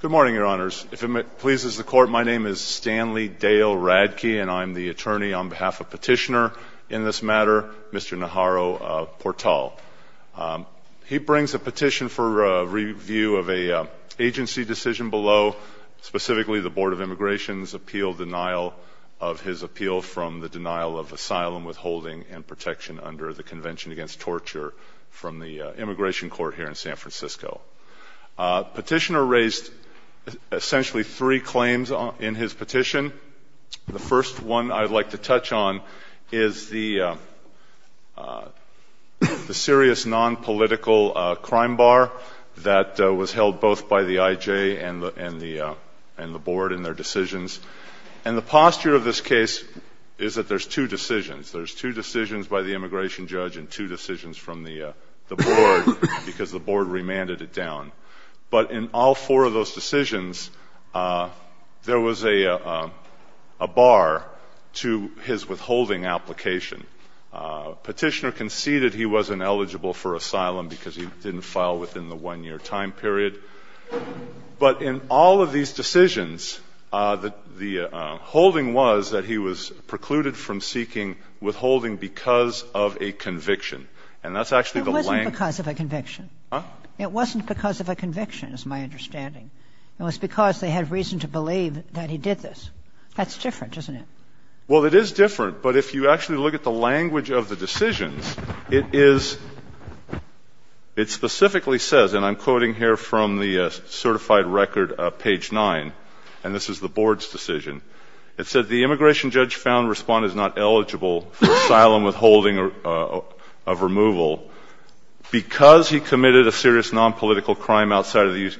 Good morning, Your Honors. If it pleases the Court, my name is Stanley Dale Radke, and I'm the attorney on behalf of Petitioner in this matter, Mr. Najarro-Portal. He brings a petition for review of an agency decision below, specifically the Board of Immigration's appeal of denial of his appeal from the denial of asylum, withholding, and protection under the Convention Against Torture from the Immigration Court here in San Francisco. Petitioner raised essentially three claims in his petition. The first one I'd like to touch on is the serious nonpolitical crime bar that was held both by the IJ and the Board in their decisions. And the posture of this case is that there's two decisions. There's two decisions by the immigration judge and two decisions from the Board because the Board remanded it down. But in all four of those decisions, there was a bar to his withholding application. Petitioner conceded he wasn't eligible for asylum because he didn't file within the one-year time period. But in all of these decisions, the holding was that he was precluded from seeking withholding because of a conviction. And that's actually the language. Kagan. It wasn't because of a conviction. It wasn't because of a conviction is my understanding. It was because they had reason to believe that he did this. That's different, isn't it? Well, it is different, but if you actually look at the language of the decisions, it is ‑‑ it specifically says, and I'm quoting here from the certified record, page 9, and this is the Board's decision. It says, the immigration judge found Respondent is not eligible for asylum withholding of removal because he committed a serious nonpolitical crime outside of the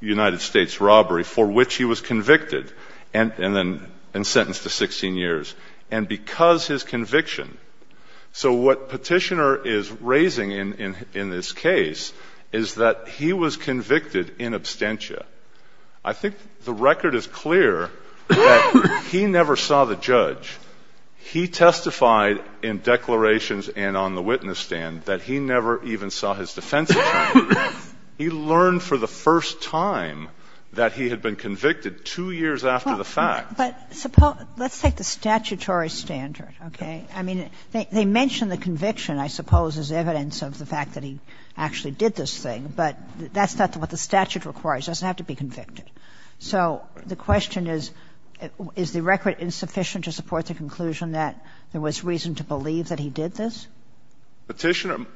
United States robbery for which he was convicted and then sentenced to 16 years. And because his conviction. So what Petitioner is raising in this case is that he was convicted in absentia. I think the record is clear that he never saw the judge. He testified in declarations and on the witness stand that he never even saw his defense attorney. He learned for the first time that he had been convicted two years after the fact. But suppose ‑‑ let's take the statutory standard, okay? I mean, they mention the conviction, I suppose, as evidence of the fact that he actually did this thing, but that's not what the statute requires. It doesn't have to be convicted. So the question is, is the record insufficient to support the conclusion that there was reason to believe that he did this? Petitioner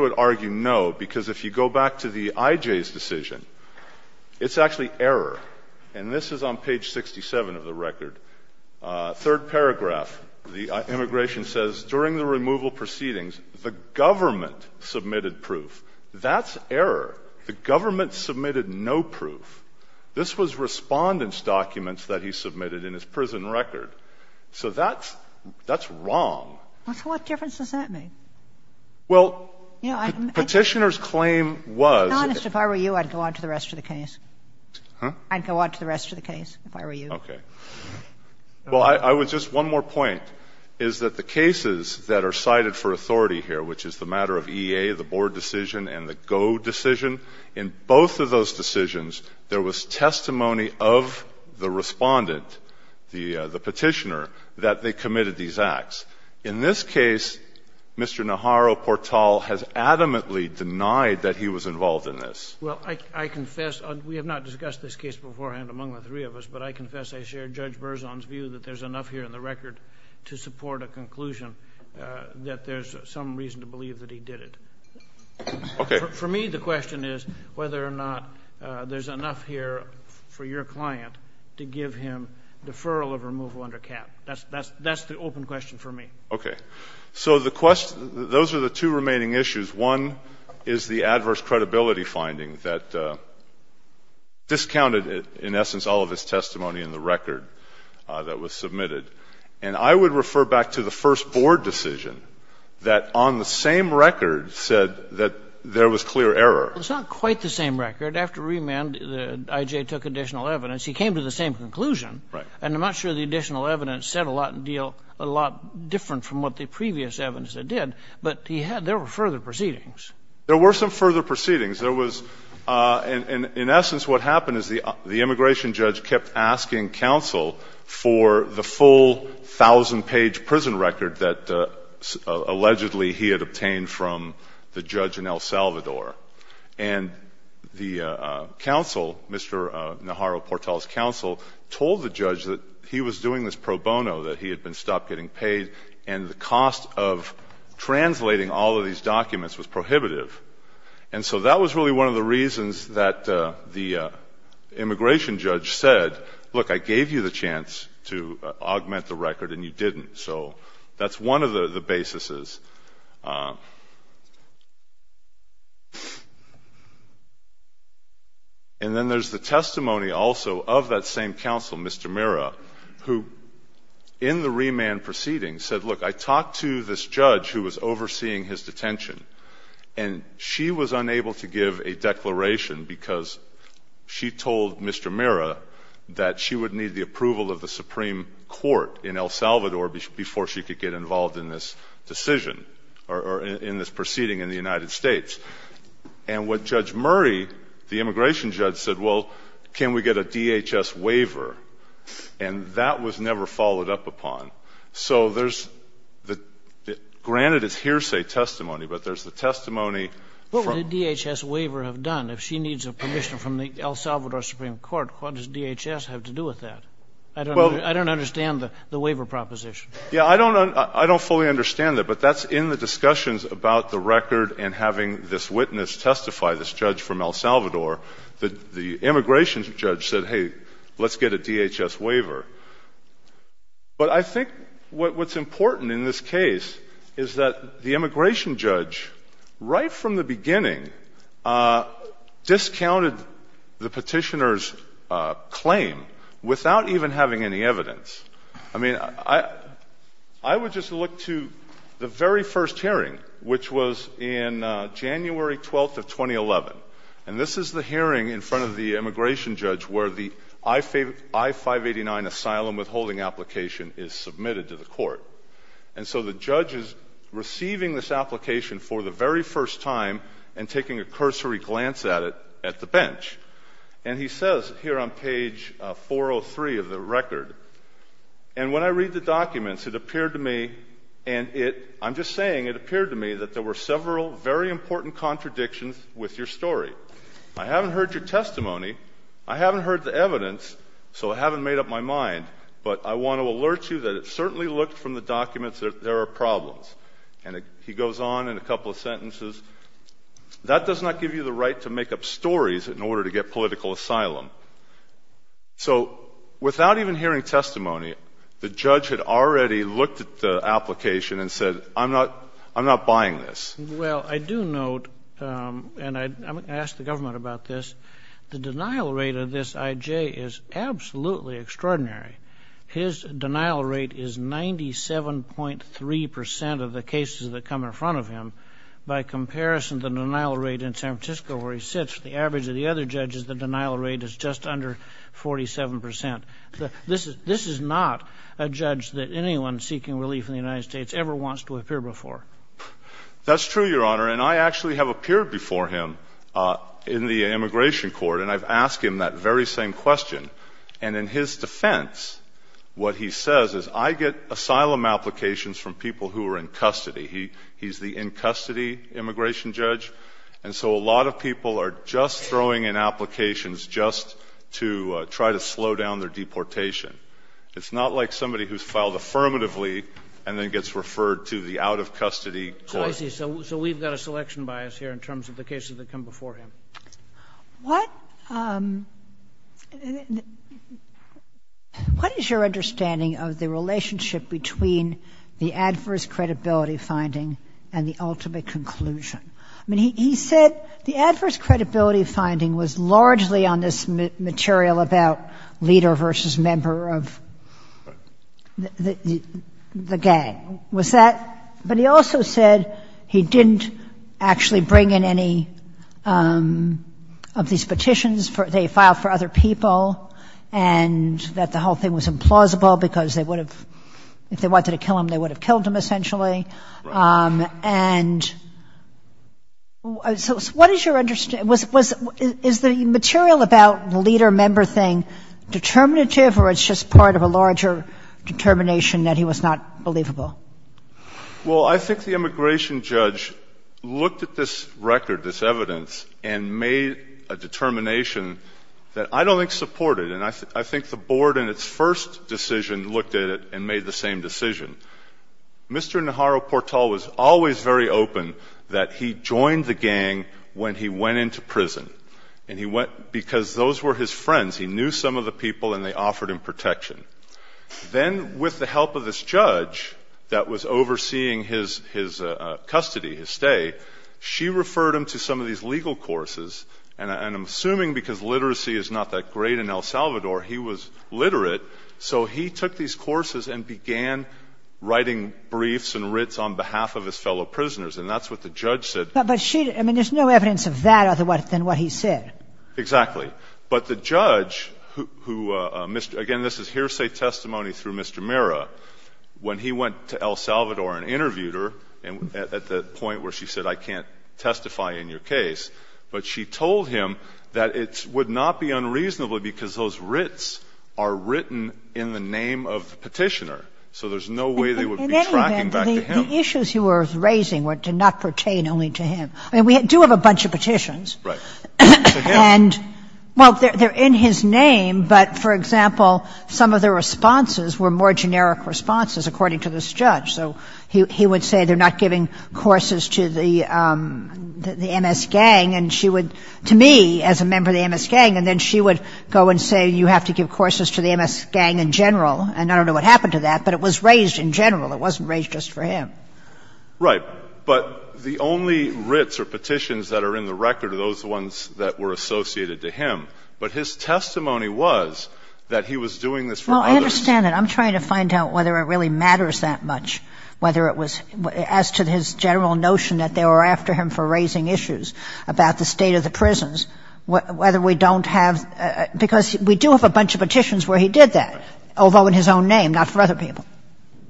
would argue no, because if you go back to the IJ's decision, it's actually And this is on page 67 of the record. Third paragraph, the immigration says, during the removal proceedings, the government submitted proof. That's error. The government submitted no proof. This was Respondent's documents that he submitted in his prison record. So that's ‑‑ that's wrong. So what difference does that make? Well, Petitioner's claim was ‑‑ I'd go on to the rest of the case, if I were you. Okay. Well, I would just ‑‑ one more point is that the cases that are cited for authority here, which is the matter of EA, the Board decision, and the GO decision, in both of those decisions, there was testimony of the Respondent, the Petitioner, that they committed these acts. In this case, Mr. Naharro-Portal has adamantly denied that he was involved in this. Well, I confess ‑‑ we have not discussed this case beforehand among the three of us, but I confess I share Judge Berzon's view that there's enough here in the record to support a conclusion that there's some reason to believe that he did it. Okay. For me, the question is whether or not there's enough here for your client to give him deferral of removal under cap. That's the open question for me. Okay. So the question ‑‑ those are the two remaining issues. One is the adverse credibility finding that discounted, in essence, all of his testimony in the record that was submitted. And I would refer back to the first Board decision that on the same record said that there was clear error. Well, it's not quite the same record. After remand, I.J. took additional evidence. He came to the same conclusion. Right. And I'm not sure the additional evidence said a lot in deal ‑‑ a lot different from what the previous evidence did. But he had ‑‑ there were further proceedings. There were some further proceedings. There was ‑‑ in essence, what happened is the immigration judge kept asking counsel for the full 1,000‑page prison record that allegedly he had obtained from the judge in El Salvador. And the counsel, Mr. Naharro Portel's counsel, told the judge that he was doing this pro bono, that he had been stopped getting paid, and the cost of translating all of these documents was prohibitive. And so that was really one of the reasons that the immigration judge said, look, I gave you the chance to augment the record, and you didn't. So that's one of the basises. And then there's the testimony also of that same counsel, Mr. Mirra, who in the remand proceeding said, look, I talked to this judge who was overseeing his detention, and she was unable to give a declaration because she told Mr. Mirra that she would need the approval of the Supreme Court in El Salvador before she could get involved in this decision or in this proceeding in the United States. And what Judge Murray, the immigration judge, said, well, can we get a DHS waiver? And that was never followed up upon. So there's the — granted, it's hearsay testimony, but there's the testimony from — What would a DHS waiver have done? If she needs a permission from the El Salvador Supreme Court, what does DHS have to do with that? I don't understand the waiver proposition. Yeah. I don't fully understand that, but that's in the discussions about the record and having this witness testify, this judge from El Salvador. The immigration judge said, hey, let's get a DHS waiver. But I think what's important in this case is that the immigration judge, right from the beginning, discounted the petitioner's claim without even having any evidence. I mean, I would just look to the very first hearing, which was in January 12th of 2011, and this is the hearing in front of the immigration judge where the I-589 asylum withholding application is submitted to the court. And so the judge is receiving this application for the very first time and taking a cursory glance at it at the bench. And he says here on page 403 of the record, and when I read the documents, it appeared to me, and I'm just saying, it appeared to me that there were several very important contradictions with your story. I haven't heard your testimony. I haven't heard the evidence, so I haven't made up my mind, but I want to alert you that it certainly looked from the documents that there are problems. And he goes on in a couple of sentences. That does not give you the right to make up stories in order to get political asylum. So without even hearing testimony, the judge had already looked at the application and said, I'm not buying this. Well, I do note, and I'm going to ask the government about this, the denial rate of this I.J. is absolutely extraordinary. His denial rate is 97.3 percent of the cases that come in front of him. By comparison, the denial rate in San Francisco where he sits, the average of the other judges, the denial rate is just under 47 percent. This is not a judge that anyone seeking relief in the United States ever wants to appear before. That's true, Your Honor, and I actually have appeared before him in the immigration court, and I've asked him that very same question. And in his defense, what he says is, I get asylum applications from people who are in custody. He's the in-custody immigration judge, and so a lot of people are just throwing in applications just to try to slow down their deportation. It's not like somebody who's filed affirmatively and then gets referred to the out-of-custody court. So I see. So we've got a selection bias here in terms of the cases that come before him. What is your understanding of the relationship between the adverse credibility finding and the ultimate conclusion? I mean, he said the adverse credibility finding was largely on this material about leader versus member of the gang. Was that — but he also said he didn't actually bring in any of these petitions. They filed for other people and that the whole thing was implausible because they would have — if they wanted to kill him, they would have killed him, essentially. Right. And so what is your — is the material about the leader-member thing determinative or it's just part of a larger determination that he was not believable? Well, I think the immigration judge looked at this record, this evidence, and made a determination that I don't think supported. And I think the board in its first decision looked at it and made the same decision. Mr. Naharu-Portal was always very open that he joined the gang when he went into prison, and he went because those were his friends. He knew some of the people and they offered him protection. Then with the help of this judge that was overseeing his custody, his stay, she referred him to some of these legal courses. And I'm assuming because literacy is not that great in El Salvador, he was literate, so he took these courses and began writing briefs and writs on behalf of his fellow prisoners. And that's what the judge said. But she — I mean, there's no evidence of that other than what he said. Exactly. But the judge who — again, this is hearsay testimony through Mr. Mira. When he went to El Salvador and interviewed her at the point where she said, I can't testify in your case, but she told him that it would not be unreasonable because those writs are written in the name of the Petitioner. So there's no way they would be tracking back to him. In any event, the issues you were raising did not pertain only to him. I mean, we do have a bunch of petitions. Right. And, well, they're in his name, but, for example, some of the responses were more generic responses, according to this judge. So he would say they're not giving courses to the MS gang, and she would — to me as a member of the MS gang, and then she would go and say you have to give courses to the MS gang in general. And I don't know what happened to that, but it was raised in general. It wasn't raised just for him. Right. But the only writs or petitions that are in the record are those ones that were associated to him. But his testimony was that he was doing this for others. Well, I understand that. I'm trying to find out whether it really matters that much, whether it was — as to his general notion that they were after him for raising issues about the state of the prisons, whether we don't have — because we do have a bunch of petitions where he did that, although in his own name, not for other people.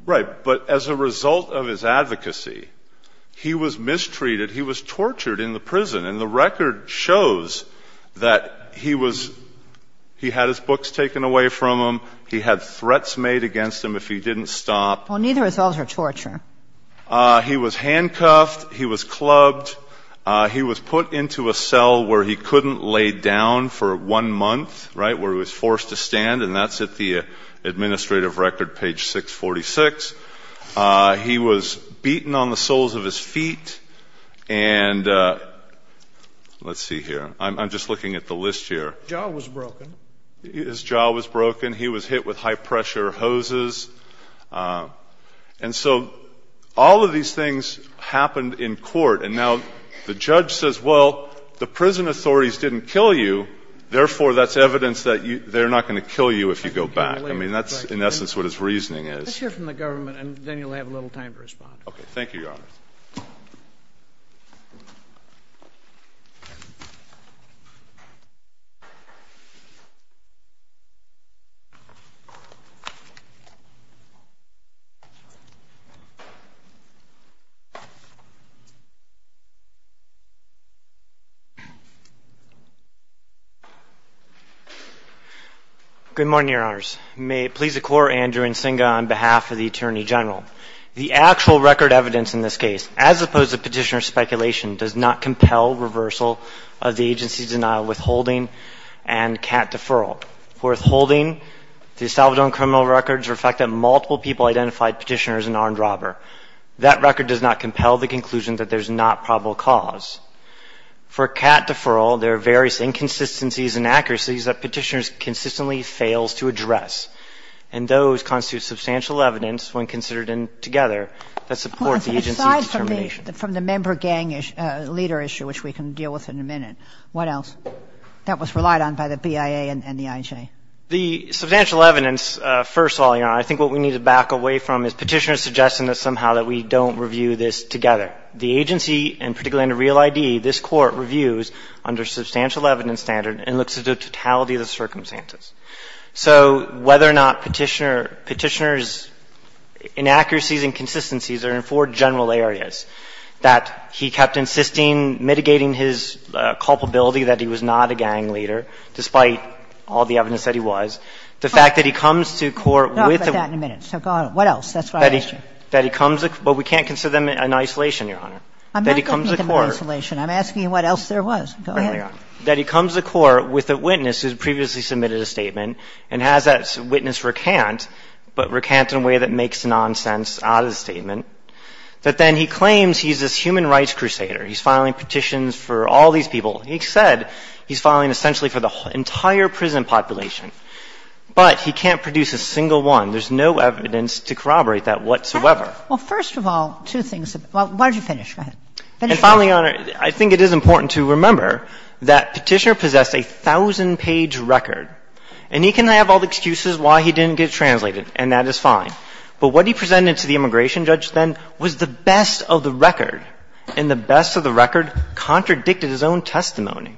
Right. But as a result of his advocacy, he was mistreated. He was tortured in the prison. And the record shows that he was — he had his books taken away from him. He had threats made against him if he didn't stop. Well, neither of those are torture. He was handcuffed. He was clubbed. He was put into a cell where he couldn't lay down for one month, right, where he was forced to stand. And that's at the administrative record, page 646. He was beaten on the soles of his feet. And let's see here. I'm just looking at the list here. Jaw was broken. His jaw was broken. He was hit with high-pressure hoses. And so all of these things happened in court. And now the judge says, well, the prison authorities didn't kill you, therefore that's evidence that they're not going to kill you if you go back. I mean, that's in essence what his reasoning is. Let's hear from the government, and then you'll have a little time to respond. Okay. Thank you, Your Honor. Good morning, Your Honors. May it please the Court, Andrew Nsinga on behalf of the Attorney General. The actual record evidence in this case, as opposed to Petitioner's speculation, does not compel reversal of the agency's denial, withholding, and cat deferral. For withholding, the Salvadoran criminal records reflect that multiple people identified Petitioner as an armed robber. That record does not compel the conclusion that there's not probable cause. For cat deferral, there are various inconsistencies and accuracies that Petitioner consistently fails to address. And those constitute substantial evidence when considered together that supports the agency's determination. Well, aside from the member gang leader issue, which we can deal with in a minute, what else? That was relied on by the BIA and the IJ. The substantial evidence, first of all, Your Honor, I think what we need to back away from is Petitioner suggesting that somehow that we don't review this together. The agency, and particularly under Real ID, this Court reviews under substantial evidence standard and looks at the totality of the circumstances. So whether or not Petitioner's inaccuracies and consistencies are in four general areas, that he kept insisting, mitigating his culpability that he was not a gang leader, despite all the evidence that he was, the fact that he comes to court with a – No. I'll get to that in a minute. So go ahead. What else? That's what I'm asking. That he comes – but we can't consider them in isolation, Your Honor. I'm not talking about isolation. That he comes to court – I'm asking what else there was. Go ahead. That he comes to court with a witness who's previously submitted a statement and has that witness recant, but recant in a way that makes nonsense out of the statement, that then he claims he's this human rights crusader. He's filing petitions for all these people. He said he's filing essentially for the entire prison population. But he can't produce a single one. There's no evidence to corroborate that whatsoever. Well, first of all, two things. Why don't you finish? Go ahead. And finally, Your Honor, I think it is important to remember that Petitioner possessed a thousand-page record, and he can have all the excuses why he didn't get translated, and that is fine. But what he presented to the immigration judge then was the best of the record, and the best of the record contradicted his own testimony.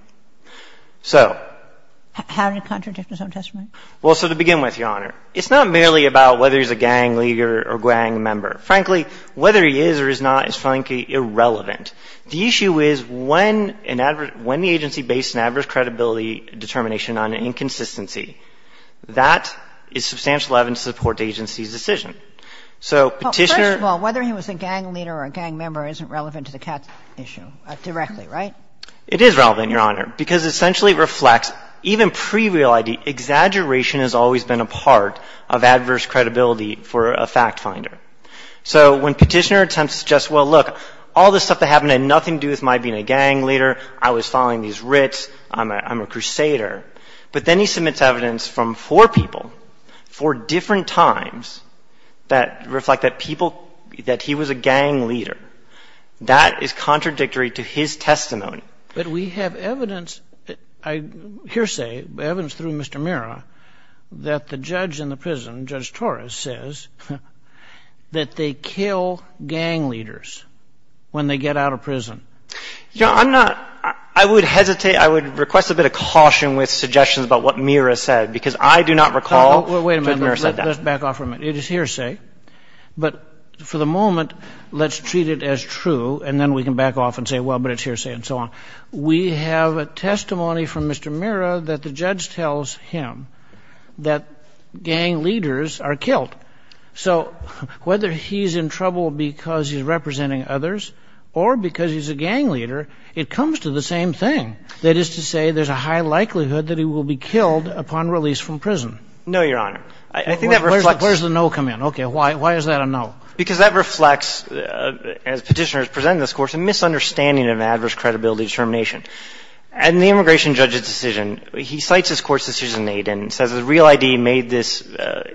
So – How did it contradict his own testimony? Well, so to begin with, Your Honor, it's not merely about whether he's a gang leader or gang member. Frankly, whether he is or is not is, frankly, irrelevant. The issue is when an adverse – when the agency based an adverse credibility determination on an inconsistency, that is substantial evidence to support the agency's decision. So Petitioner – Well, first of all, whether he was a gang leader or a gang member isn't relevant to the CATS issue directly, right? It is relevant, Your Honor, because essentially it reflects even pre-real ID, exaggeration has always been a part of adverse credibility for a fact-finder. So when Petitioner attempts to suggest, well, look, all this stuff that happened had nothing to do with my being a gang leader, I was following these writs, I'm a crusader, but then he submits evidence from four people, four different times, that reflect that people – that he was a gang leader. That is contradictory to his testimony. But we have evidence, hearsay, evidence through Mr. Mira that the judge in the prison, Judge Torres, says that they kill gang leaders when they get out of prison. Your Honor, I'm not – I would hesitate – I would request a bit of caution with suggestions about what Mira said, because I do not recall Judge Mira said that. Well, wait a minute. Let's back off for a minute. It is hearsay. But for the moment, let's treat it as true, and then we can back off and say, well, but it's hearsay and so on. We have a testimony from Mr. Mira that the judge tells him that gang leaders are killed. So whether he's in trouble because he's representing others or because he's a gang leader, it comes to the same thing, that is to say there's a high likelihood that he will be killed upon release from prison. No, Your Honor. I think that reflects – Where does the no come in? Okay. Why is that a no? Because that reflects, as Petitioner has presented in this course, a misunderstanding of adverse credibility determination. In the immigration judge's decision, he cites this Court's decision in Aiden and says the real ID made this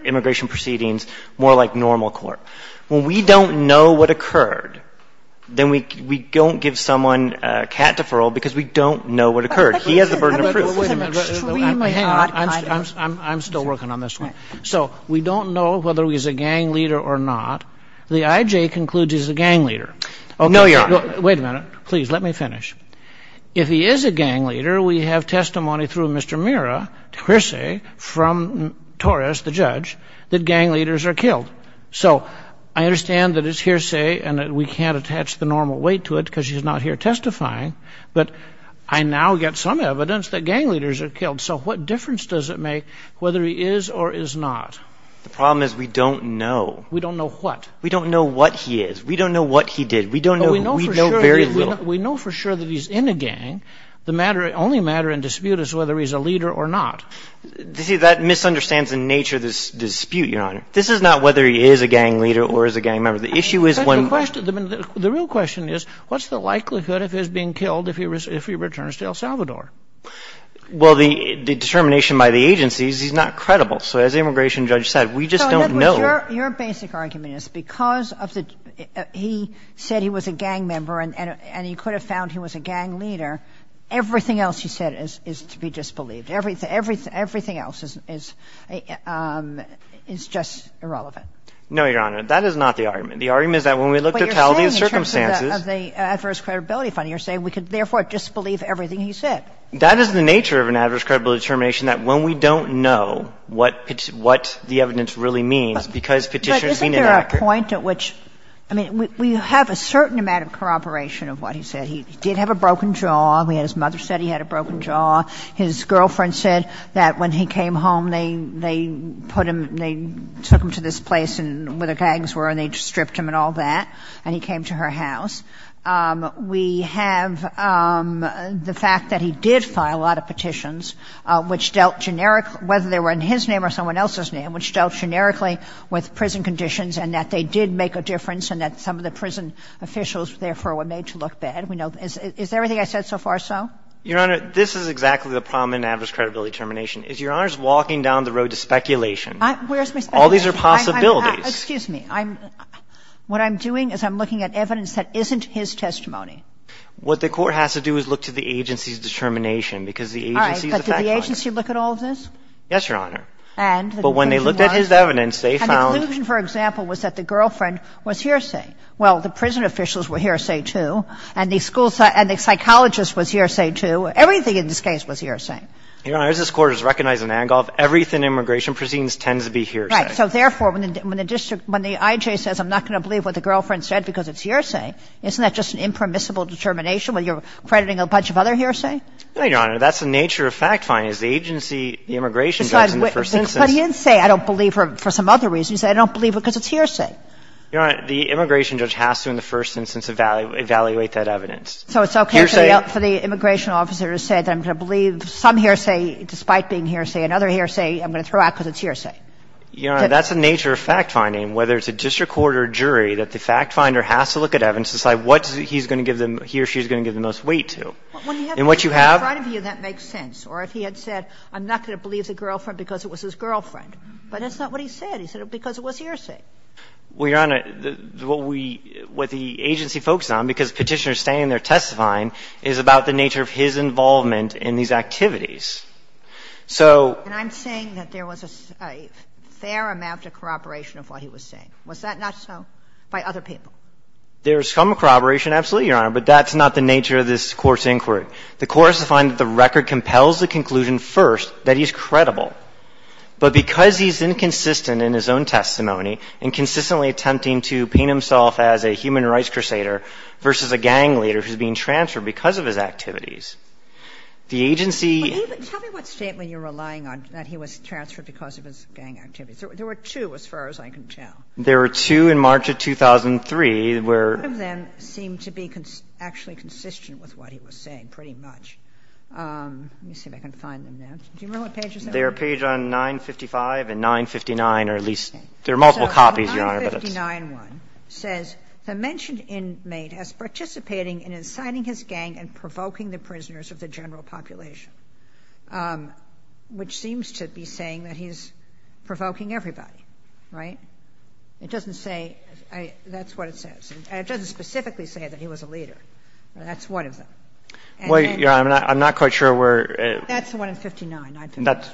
immigration proceedings more like normal court. When we don't know what occurred, then we don't give someone a cat deferral because we don't know what occurred. He has the burden of proof. Wait a minute. Hang on. I'm still working on this one. So we don't know whether he's a gang leader or not. The IJ concludes he's a gang leader. No, Your Honor. Wait a minute. Please, let me finish. If he is a gang leader, we have testimony through Mr. Mira, hearsay from Torres, the judge, that gang leaders are killed. So I understand that it's hearsay and that we can't attach the normal weight to it because he's not here testifying, but I now get some evidence that gang leaders are killed. So what difference does it make whether he is or is not? The problem is we don't know. We don't know what? We don't know what he is. We don't know what he did. We don't know. We know very little. We know for sure that he's in a gang. The only matter in dispute is whether he's a leader or not. You see, that misunderstands the nature of this dispute, Your Honor. This is not whether he is a gang leader or is a gang member. The issue is when the question the real question is what's the likelihood of his being killed if he returns to El Salvador? Well, the determination by the agency is he's not credible. So as the immigration judge said, we just don't know. Your basic argument is because of the he said he was a gang member and he could have found he was a gang leader, everything else he said is to be disbelieved. Everything else is just irrelevant. No, Your Honor. That is not the argument. The argument is that when we look at the totality of circumstances. But you're saying in terms of the adverse credibility finding, you're saying we could therefore disbelieve everything he said. That is the nature of an adverse credibility determination, that when we don't know what the evidence really means, because petitions mean inaccurate. But isn't there a point at which, I mean, we have a certain amount of corroboration of what he said. He did have a broken jaw. His mother said he had a broken jaw. His girlfriend said that when he came home, they put him, they took him to this place where the gangs were and they stripped him and all that, and he came to her house. We have the fact that he did file a lot of petitions which dealt generically whether they were in his name or someone else's name, which dealt generically with prison conditions and that they did make a difference and that some of the prison officials therefore were made to look bad. Is everything I said so far so? Your Honor, this is exactly the problem in an adverse credibility determination is Your Honor's walking down the road to speculation. Where's my speculation? All these are possibilities. Excuse me. What I'm doing is I'm looking at evidence that isn't his testimony. What the Court has to do is look to the agency's determination because the agency is a fact finder. But did the agency look at all of this? Yes, Your Honor. And? But when they looked at his evidence, they found — And the conclusion, for example, was that the girlfriend was hearsay. Well, the prison officials were hearsay, too, and the school — and the psychologist was hearsay, too. Everything in this case was hearsay. Your Honor, as this Court has recognized in Angola, everything in immigration proceedings tends to be hearsay. Right. So therefore, when the district — when the I.J. says I'm not going to believe what the girlfriend said because it's hearsay, isn't that just an impermissible determination where you're crediting a bunch of other hearsay? No, Your Honor. That's the nature of fact finding, is the agency, the immigration judge, in the first instance — But he didn't say I don't believe her for some other reason. He said I don't believe her because it's hearsay. Your Honor, the immigration judge has to, in the first instance, evaluate that evidence. So it's okay for the immigration officer to say that I'm going to believe some hearsay despite being hearsay, another hearsay I'm going to throw out because it's hearsay? Your Honor, that's the nature of fact finding, whether it's a district court or a jury, that the fact finder has to look at evidence to decide what he's going to give them — he or she is going to give them the most weight to. And what you have — In front of you, that makes sense. Or if he had said I'm not going to believe the girlfriend because it was his girlfriend, but that's not what he said. He said it was because it was hearsay. Well, Your Honor, what we — what the agency focuses on, because Petitioner is standing there testifying, is about the nature of his involvement in these activities. So — And I'm saying that there was a fair amount of corroboration of what he was saying. Was that not so by other people? There is some corroboration, absolutely, Your Honor, but that's not the nature of this Court's inquiry. The Court has to find that the record compels the conclusion first that he's credible. But because he's inconsistent in his own testimony and consistently attempting to paint himself as a human rights crusader versus a gang leader who's being transferred because of his activities, the agency — But even — tell me what statement you're relying on, that he was transferred because of his gang activities. There were two, as far as I can tell. There were two in March of 2003, where — None of them seem to be actually consistent with what he was saying, pretty much. Let me see if I can find them now. Do you remember what pages they were? They were paged on 955 and 959, or at least — there are multiple copies, Your Honor, but it's — So the 959 one says, the mentioned inmate as participating in inciting his gang and provoking the prisoners of the general population, which seems to be saying that he's provoking everybody. Right? It doesn't say — that's what it says. And it doesn't specifically say that he was a leader. That's one of them. And then — Well, Your Honor, I'm not quite sure where — That's the one in 59, 959. That's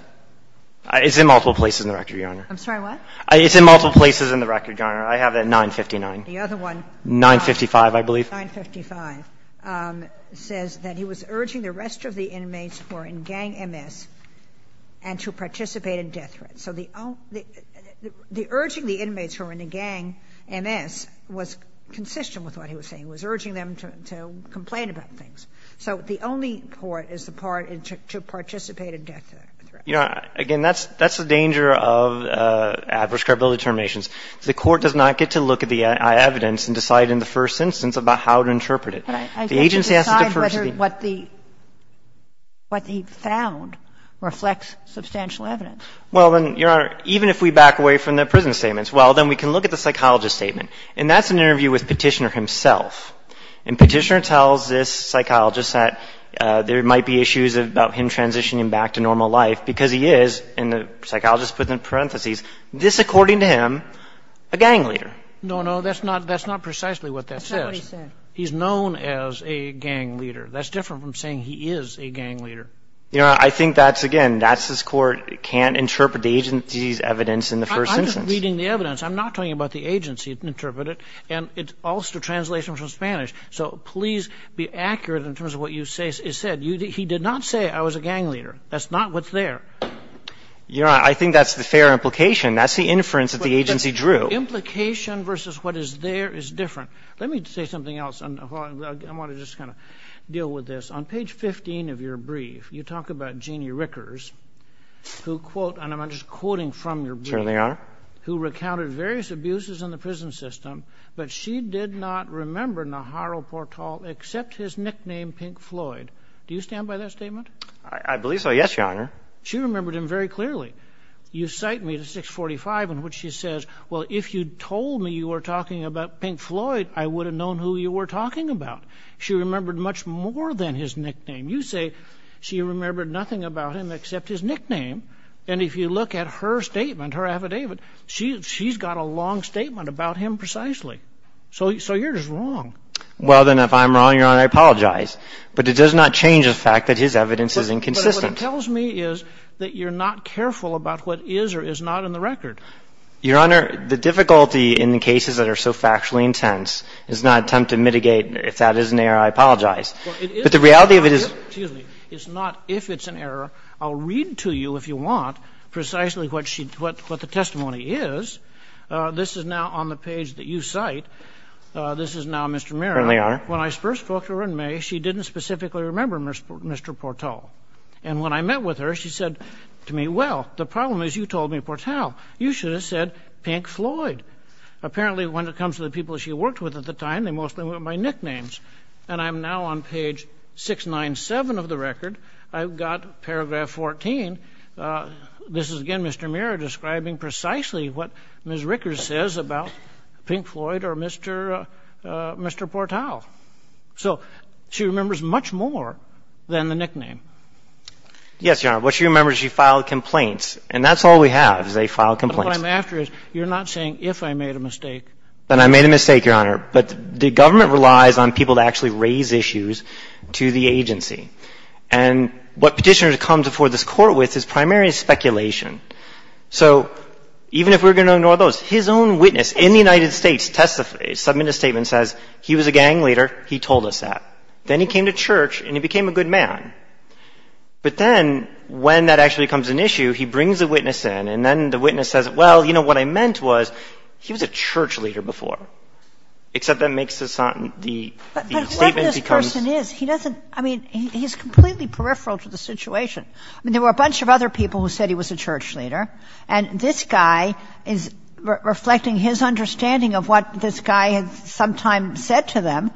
— it's in multiple places in the record, Your Honor. I'm sorry, what? It's in multiple places in the record, Your Honor. I have the 959. The other one — 955, I believe. 955 says that he was urging the rest of the inmates who were in gang MS and to participate in death threats. So the — the urging the inmates who were in the gang MS was consistent with what he was saying. He was urging them to complain about things. So the only court is the part to participate in death threats. Your Honor, again, that's — that's the danger of adverse credibility determinations. The court does not get to look at the evidence and decide in the first instance about how to interpret it. The agency has to first be — But I can't decide whether what the — what he found reflects substantial evidence. Well, then, Your Honor, even if we back away from the prison statements, well, then we can look at the psychologist's statement. And that's an interview with Petitioner himself. And Petitioner tells this psychologist that there might be issues about him transitioning back to normal life because he is, and the psychologist put it in parentheses, this, according to him, a gang leader. No, no, that's not — that's not precisely what that says. That's not what he said. He's known as a gang leader. That's different from saying he is a gang leader. Your Honor, I think that's — again, that's — this Court can't interpret the agency's evidence in the first instance. I'm just reading the evidence. I'm not talking about the agency interpret it. And it's all through translation from Spanish. So please be accurate in terms of what you said. He did not say I was a gang leader. That's not what's there. Your Honor, I think that's the fair implication. That's the inference that the agency drew. Implication versus what is there is different. Let me say something else. I want to just kind of deal with this. On page 15 of your brief, you talk about Jeannie Rickers, who — and I'm just quoting from your brief — Certainly, Your Honor. — who recounted various abuses in the prison system. But she did not remember Naharu Portol except his nickname, Pink Floyd. Do you stand by that statement? I believe so, yes, Your Honor. She remembered him very clearly. You cite me to 645 in which she says, well, if you told me you were talking about Pink Floyd, I would have known who you were talking about. She remembered much more than his nickname. You say she remembered nothing about him except his nickname. And if you look at her statement, her affidavit, she's got a long statement about him precisely. So you're just wrong. Well, then, if I'm wrong, Your Honor, I apologize. But it does not change the fact that his evidence is inconsistent. But what it tells me is that you're not careful about what is or is not in the record. Your Honor, the difficulty in the cases that are so factually intense is not an attempt to mitigate if that is an error. I apologize. But the reality of it is — Excuse me. It's not if it's an error. I'll read to you, if you want, precisely what she — what the testimony is. This is now on the page that you cite. This is now Mr. Mirren. Certainly, Your Honor. When I first spoke to her in May, she didn't specifically remember Mr. Portol. And when I met with her, she said to me, well, the problem is you told me Portol. You should have said Pink Floyd. Apparently, when it comes to the people she worked with at the time, they mostly went by nicknames. And I'm now on page 697 of the record. I've got paragraph 14. This is, again, Mr. Mirren describing precisely what Ms. Rickers says about Pink Floyd or Mr. Portol. So she remembers much more than the nickname. Yes, Your Honor. What she remembers, she filed complaints. And that's all we have, is they filed complaints. But what I'm after is you're not saying if I made a mistake. Then I made a mistake, Your Honor. But the government relies on people to actually raise issues to the agency. And what Petitioner comes before this Court with is primarily speculation. So even if we're going to ignore those, his own witness in the United States testifies, submits a statement, says he was a gang leader, he told us that. Then he came to church and he became a good man. But then when that actually becomes an issue, he brings a witness in. And then the witness says, well, you know, what I meant was he was a church leader before. Except that makes the statement become — But what this person is, he doesn't — I mean, he's completely peripheral to the situation. I mean, there were a bunch of other people who said he was a church leader. And this guy is reflecting his understanding of what this guy had sometime said to them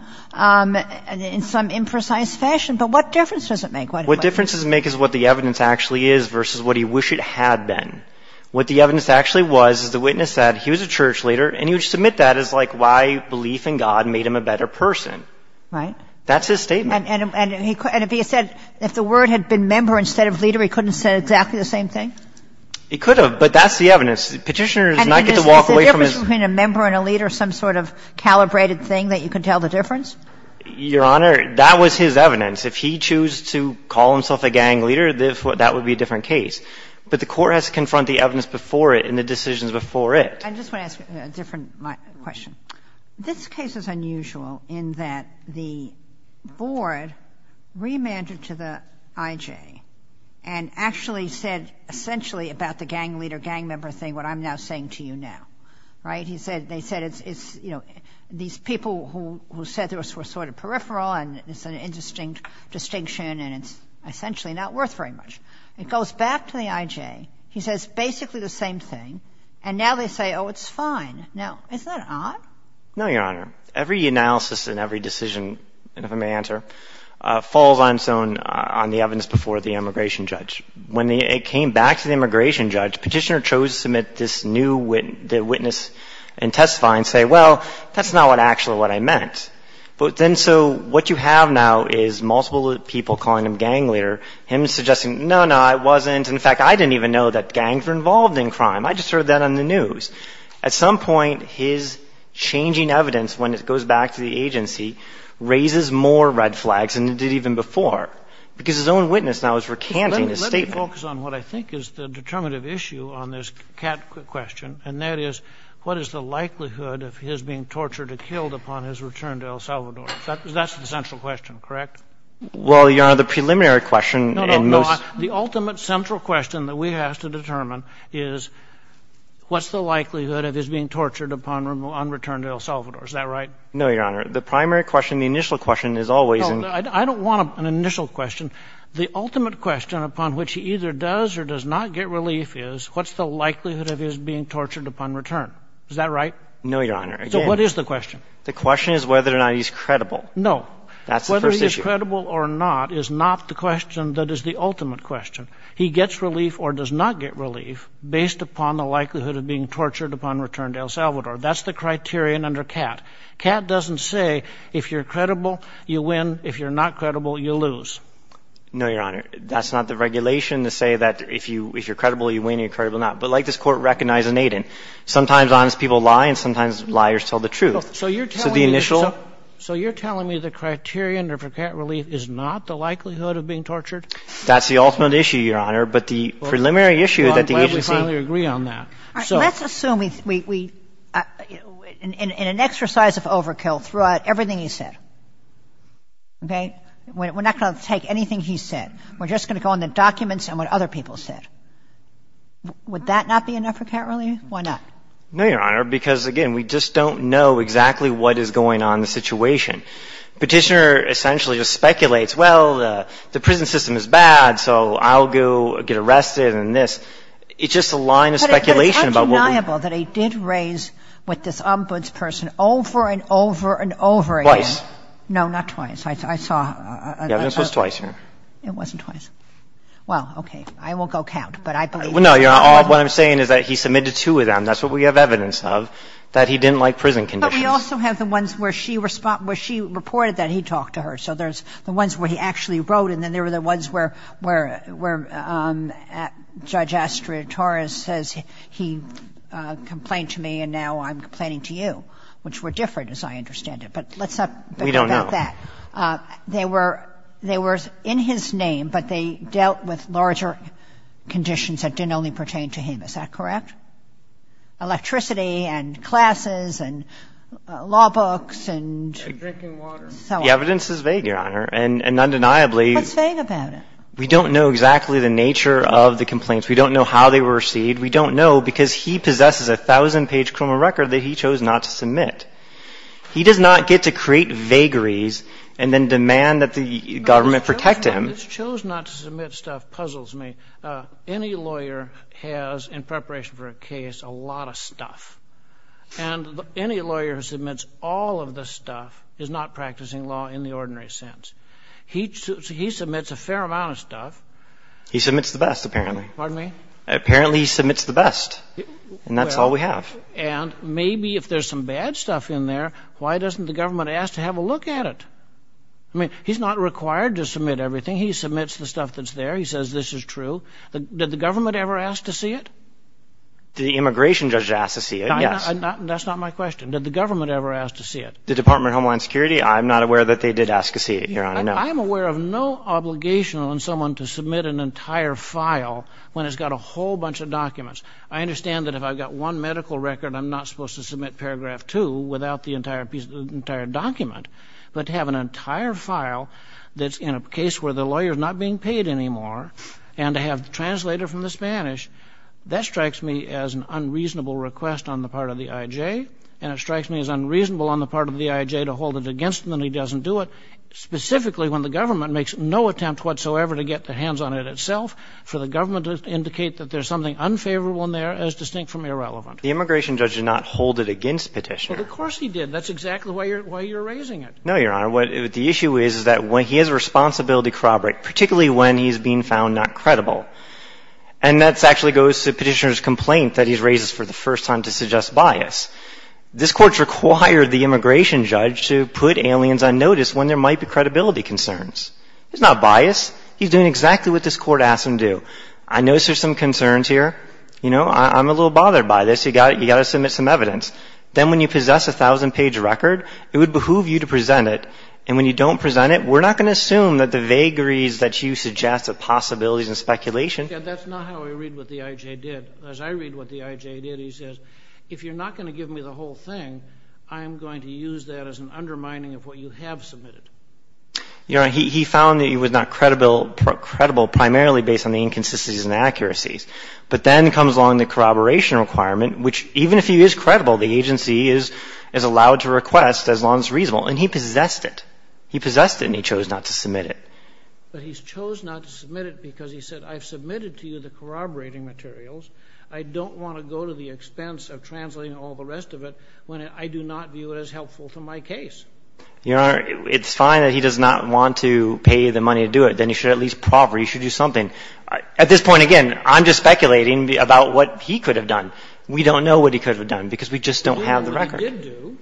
in some imprecise fashion. But what difference does it make? What difference does it make is what the evidence actually is versus what he wished it had been. What the evidence actually was is the witness said he was a church leader. And he would submit that as, like, why belief in God made him a better person. Right. That's his statement. And if he had said — if the word had been member instead of leader, he couldn't have said exactly the same thing? He could have. But that's the evidence. Petitioner does not get to walk away from his — And is there a difference between a member and a leader, some sort of calibrated thing that you can tell the difference? Your Honor, that was his evidence. If he chose to call himself a gang leader, that would be a different case. But the court has to confront the evidence before it and the decisions before it. I just want to ask a different question. This case is unusual in that the board remanded to the I.J. and actually said essentially about the gang leader, gang member thing what I'm now saying to you now. Right? And he said they said it's, you know, these people who said this were sort of peripheral and it's an indistinct distinction and it's essentially not worth very much. It goes back to the I.J. He says basically the same thing. And now they say, oh, it's fine. Now, isn't that odd? No, Your Honor. Every analysis and every decision, if I may answer, falls on its own on the evidence before the immigration judge. When it came back to the immigration judge, Petitioner chose to submit this new witness and testify and say, well, that's not actually what I meant. But then so what you have now is multiple people calling him gang leader, him suggesting, no, no, I wasn't. In fact, I didn't even know that gangs were involved in crime. I just heard that on the news. At some point, his changing evidence, when it goes back to the agency, raises more red flags I'm going to focus on what I think is the determinative issue on this CAT question, and that is what is the likelihood of his being tortured and killed upon his return to El Salvador? That's the central question, correct? Well, Your Honor, the preliminary question and most — No, no, no. The ultimate central question that we have to determine is what's the likelihood of his being tortured upon return to El Salvador. Is that right? No, Your Honor. The primary question, the initial question is always — I don't want an initial question. The ultimate question upon which he either does or does not get relief is what's the likelihood of his being tortured upon return? Is that right? No, Your Honor. So what is the question? The question is whether or not he's credible. No. That's the first issue. Whether he's credible or not is not the question that is the ultimate question. He gets relief or does not get relief based upon the likelihood of being tortured upon return to El Salvador. That's the criterion under CAT. CAT doesn't say if you're credible, you win. If you're not credible, you lose. No, Your Honor. That's not the regulation to say that if you're credible, you win, if you're credible, you're not. But like this Court recognized in Aiden, sometimes honest people lie and sometimes liars tell the truth. So the initial — So you're telling me the criterion for CAT relief is not the likelihood of being tortured? That's the ultimate issue, Your Honor. But the preliminary issue that the agency — Well, I'm glad we finally agree on that. All right. Let's assume we — in an exercise of overkill, threw out everything he said. Okay? We're not going to take anything he said. We're just going to go in the documents and what other people said. Would that not be enough for CAT relief? Why not? No, Your Honor, because, again, we just don't know exactly what is going on in the situation. Petitioner essentially just speculates, well, the prison system is bad, so I'll go get arrested and this. It's just a line of speculation about what we — But it's undeniable that he did raise with this ombudsperson over and over and over again. Twice. No, not twice. I saw — The evidence was twice, Your Honor. It wasn't twice. Well, okay. I won't go count, but I believe — No, Your Honor. All — what I'm saying is that he submitted to them. That's what we have evidence of, that he didn't like prison conditions. But we also have the ones where she — where she reported that he talked to her. So there's the ones where he actually wrote and then there were the ones where — where Judge Astrid Torres says he complained to me and now I'm complaining to you, which were different, as I understand it. But let's not — We don't know. They were — they were in his name, but they dealt with larger conditions that didn't only pertain to him. Is that correct? Electricity and classes and law books and so on. Drinking water. The evidence is vague, Your Honor. And undeniably — The evidence is vague about it. We don't know exactly the nature of the complaints. We don't know how they were received. We don't know because he possesses a thousand-page criminal record that he chose not to submit. He does not get to create vagaries and then demand that the government protect him. This chose not to submit stuff puzzles me. Any lawyer has, in preparation for a case, a lot of stuff. And any lawyer who submits all of this stuff is not practicing law in the ordinary sense. He submits a fair amount of stuff. He submits the best, apparently. Pardon me? Apparently he submits the best, and that's all we have. And maybe if there's some bad stuff in there, why doesn't the government ask to have a look at it? I mean, he's not required to submit everything. He submits the stuff that's there. He says this is true. Did the government ever ask to see it? The immigration judge asked to see it, yes. That's not my question. Did the government ever ask to see it? The Department of Homeland Security, I'm not aware that they did ask to see it, Your Honor. No. I'm aware of no obligation on someone to submit an entire file when it's got a whole bunch of documents. I understand that if I've got one medical record, I'm not supposed to submit paragraph 2 without the entire document. But to have an entire file that's in a case where the lawyer is not being paid anymore and to have the translator from the Spanish, that strikes me as an unreasonable request on the part of the IJ, and it strikes me as unreasonable on the part of the IJ to hold it against him that he doesn't do it, specifically when the government makes no attempt whatsoever to get their hands on it itself, for the government to indicate that there's something unfavorable in there as distinct from irrelevant. The immigration judge did not hold it against Petitioner. Well, of course he did. That's exactly why you're raising it. No, Your Honor. What the issue is is that he has a responsibility to corroborate, particularly when he's being found not credible. And that actually goes to Petitioner's complaint that he raises for the first time to suggest bias. This Court's required the immigration judge to put aliens on notice when there might be credibility concerns. It's not bias. He's doing exactly what this Court asked him to do. I notice there's some concerns here. You know, I'm a little bothered by this. You've got to submit some evidence. Then when you possess a 1,000-page record, it would behoove you to present it. And when you don't present it, we're not going to assume that the vagaries that you suggest are possibilities and speculation. That's not how I read what the I.J. did. As I read what the I.J. did, he says, if you're not going to give me the whole thing, I am going to use that as an undermining of what you have submitted. Your Honor, he found that he was not credible primarily based on the inconsistencies and accuracies. But then comes along the corroboration requirement, which even if he is credible, the agency is allowed to request as long as it's reasonable. And he possessed it. He possessed it, and he chose not to submit it. But he chose not to submit it because he said, I've submitted to you the corroborating materials. I don't want to go to the expense of translating all the rest of it when I do not view it as helpful to my case. Your Honor, it's fine that he does not want to pay the money to do it. Then he should at least proffer. He should do something. At this point, again, I'm just speculating about what he could have done. We don't know what he could have done because we just don't have the record. Well, we did do.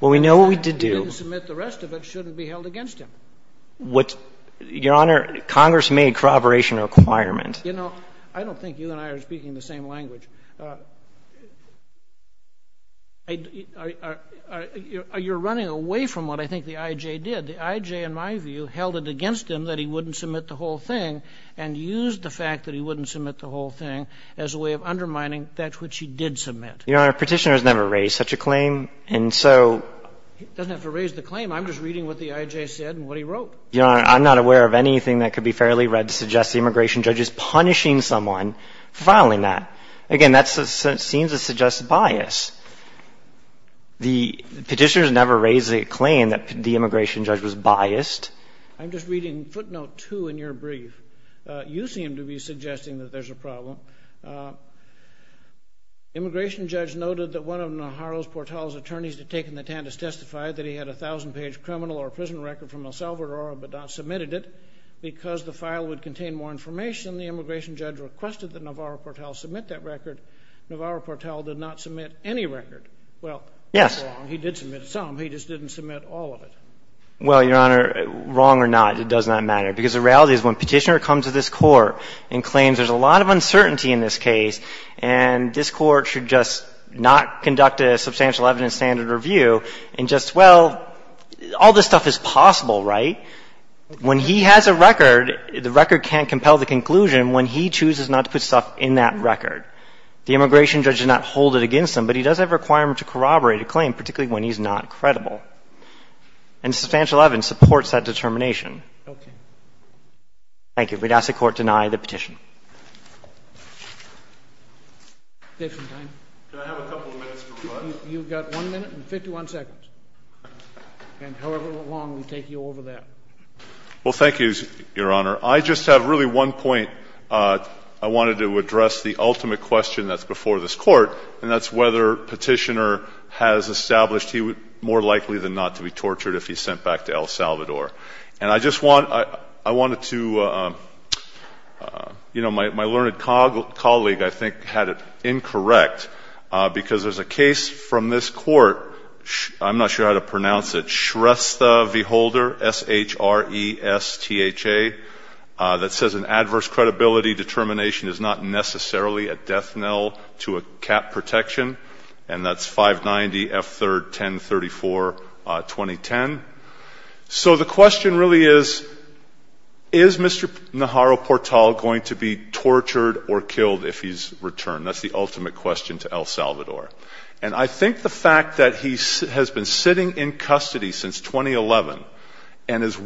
Well, we know what we did do. The fact that he didn't submit the rest of it shouldn't be held against him. Your Honor, Congress made corroboration a requirement. You know, I don't think you and I are speaking the same language. You're running away from what I think the IJ did. The IJ, in my view, held it against him that he wouldn't submit the whole thing and used the fact that he wouldn't submit the whole thing as a way of undermining that which he did submit. Your Honor, Petitioner has never raised such a claim. And so — He doesn't have to raise the claim. I'm just reading what the IJ said and what he wrote. Your Honor, I'm not aware of anything that could be fairly read to suggest the immigration judge is punishing someone for filing that. Again, that seems to suggest bias. The Petitioner has never raised a claim that the immigration judge was biased. I'm just reading footnote 2 in your brief. You seem to be suggesting that there's a problem. Immigration judge noted that one of Navarro-Portal's attorneys had taken the TANDIS, testified that he had a 1,000-page criminal or prison record from El Salvador but not submitted it. Because the file would contain more information, the immigration judge requested that Navarro-Portal submit that record. Navarro-Portal did not submit any record. Well, that's wrong. Yes. He did submit some. He just didn't submit all of it. Well, Your Honor, wrong or not, it does not matter. Because the reality is when Petitioner comes to this Court and claims there's a lot of uncertainty in this case and this Court should just not conduct a substantial evidence standard review and just, well, all this stuff is possible, right? When he has a record, the record can't compel the conclusion when he chooses not to put stuff in that record. The immigration judge does not hold it against him, but he does have a requirement to corroborate a claim, particularly when he's not credible. And substantial evidence supports that determination. Okay. Thank you. We'd ask the Court to deny the petition. Do I have a couple of minutes for rebuttal? You've got one minute and 51 seconds. And however long, we take you over that. Well, thank you, Your Honor. I just have really one point. I wanted to address the ultimate question that's before this Court, and that's whether Petitioner has established he was more likely than not to be tortured if he's sent back to El Salvador. And I just wanted to, you know, my learned colleague, I think, had it incorrect, because there's a case from this Court, I'm not sure how to pronounce it, Shrestha V. Holder, S-H-R-E-S-T-H-A, that says an adverse credibility determination is not necessarily a death knell to a cap protection, and that's 590F3-1034-2010. So the question really is, is Mr. Naharu-Portal going to be tortured or killed if he's returned? That's the ultimate question to El Salvador. And I think the fact that he has been sitting in custody since 2011 and is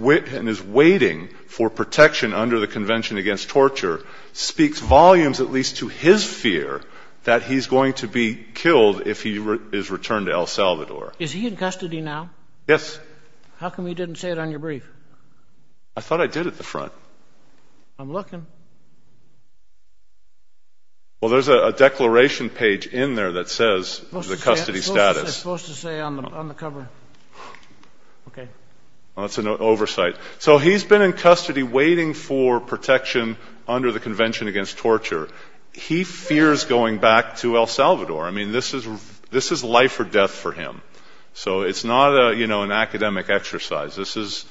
waiting for protection under the Convention Against Torture speaks volumes, at least to his fear, that he's going to be killed if he is returned to El Salvador. Is he in custody now? Yes. How come you didn't say it on your brief? I thought I did at the front. I'm looking. Well, there's a declaration page in there that says the custody status. What's it supposed to say on the cover? Well, it's an oversight. So he's been in custody waiting for protection under the Convention Against Torture. He fears going back to El Salvador. I mean, this is life or death for him. So it's not an academic exercise. This is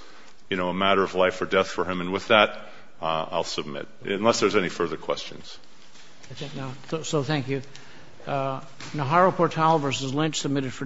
a matter of life or death for him. And with that, I'll submit, unless there's any further questions. So thank you. Naharu-Portal v. Lynch, submitted for decision.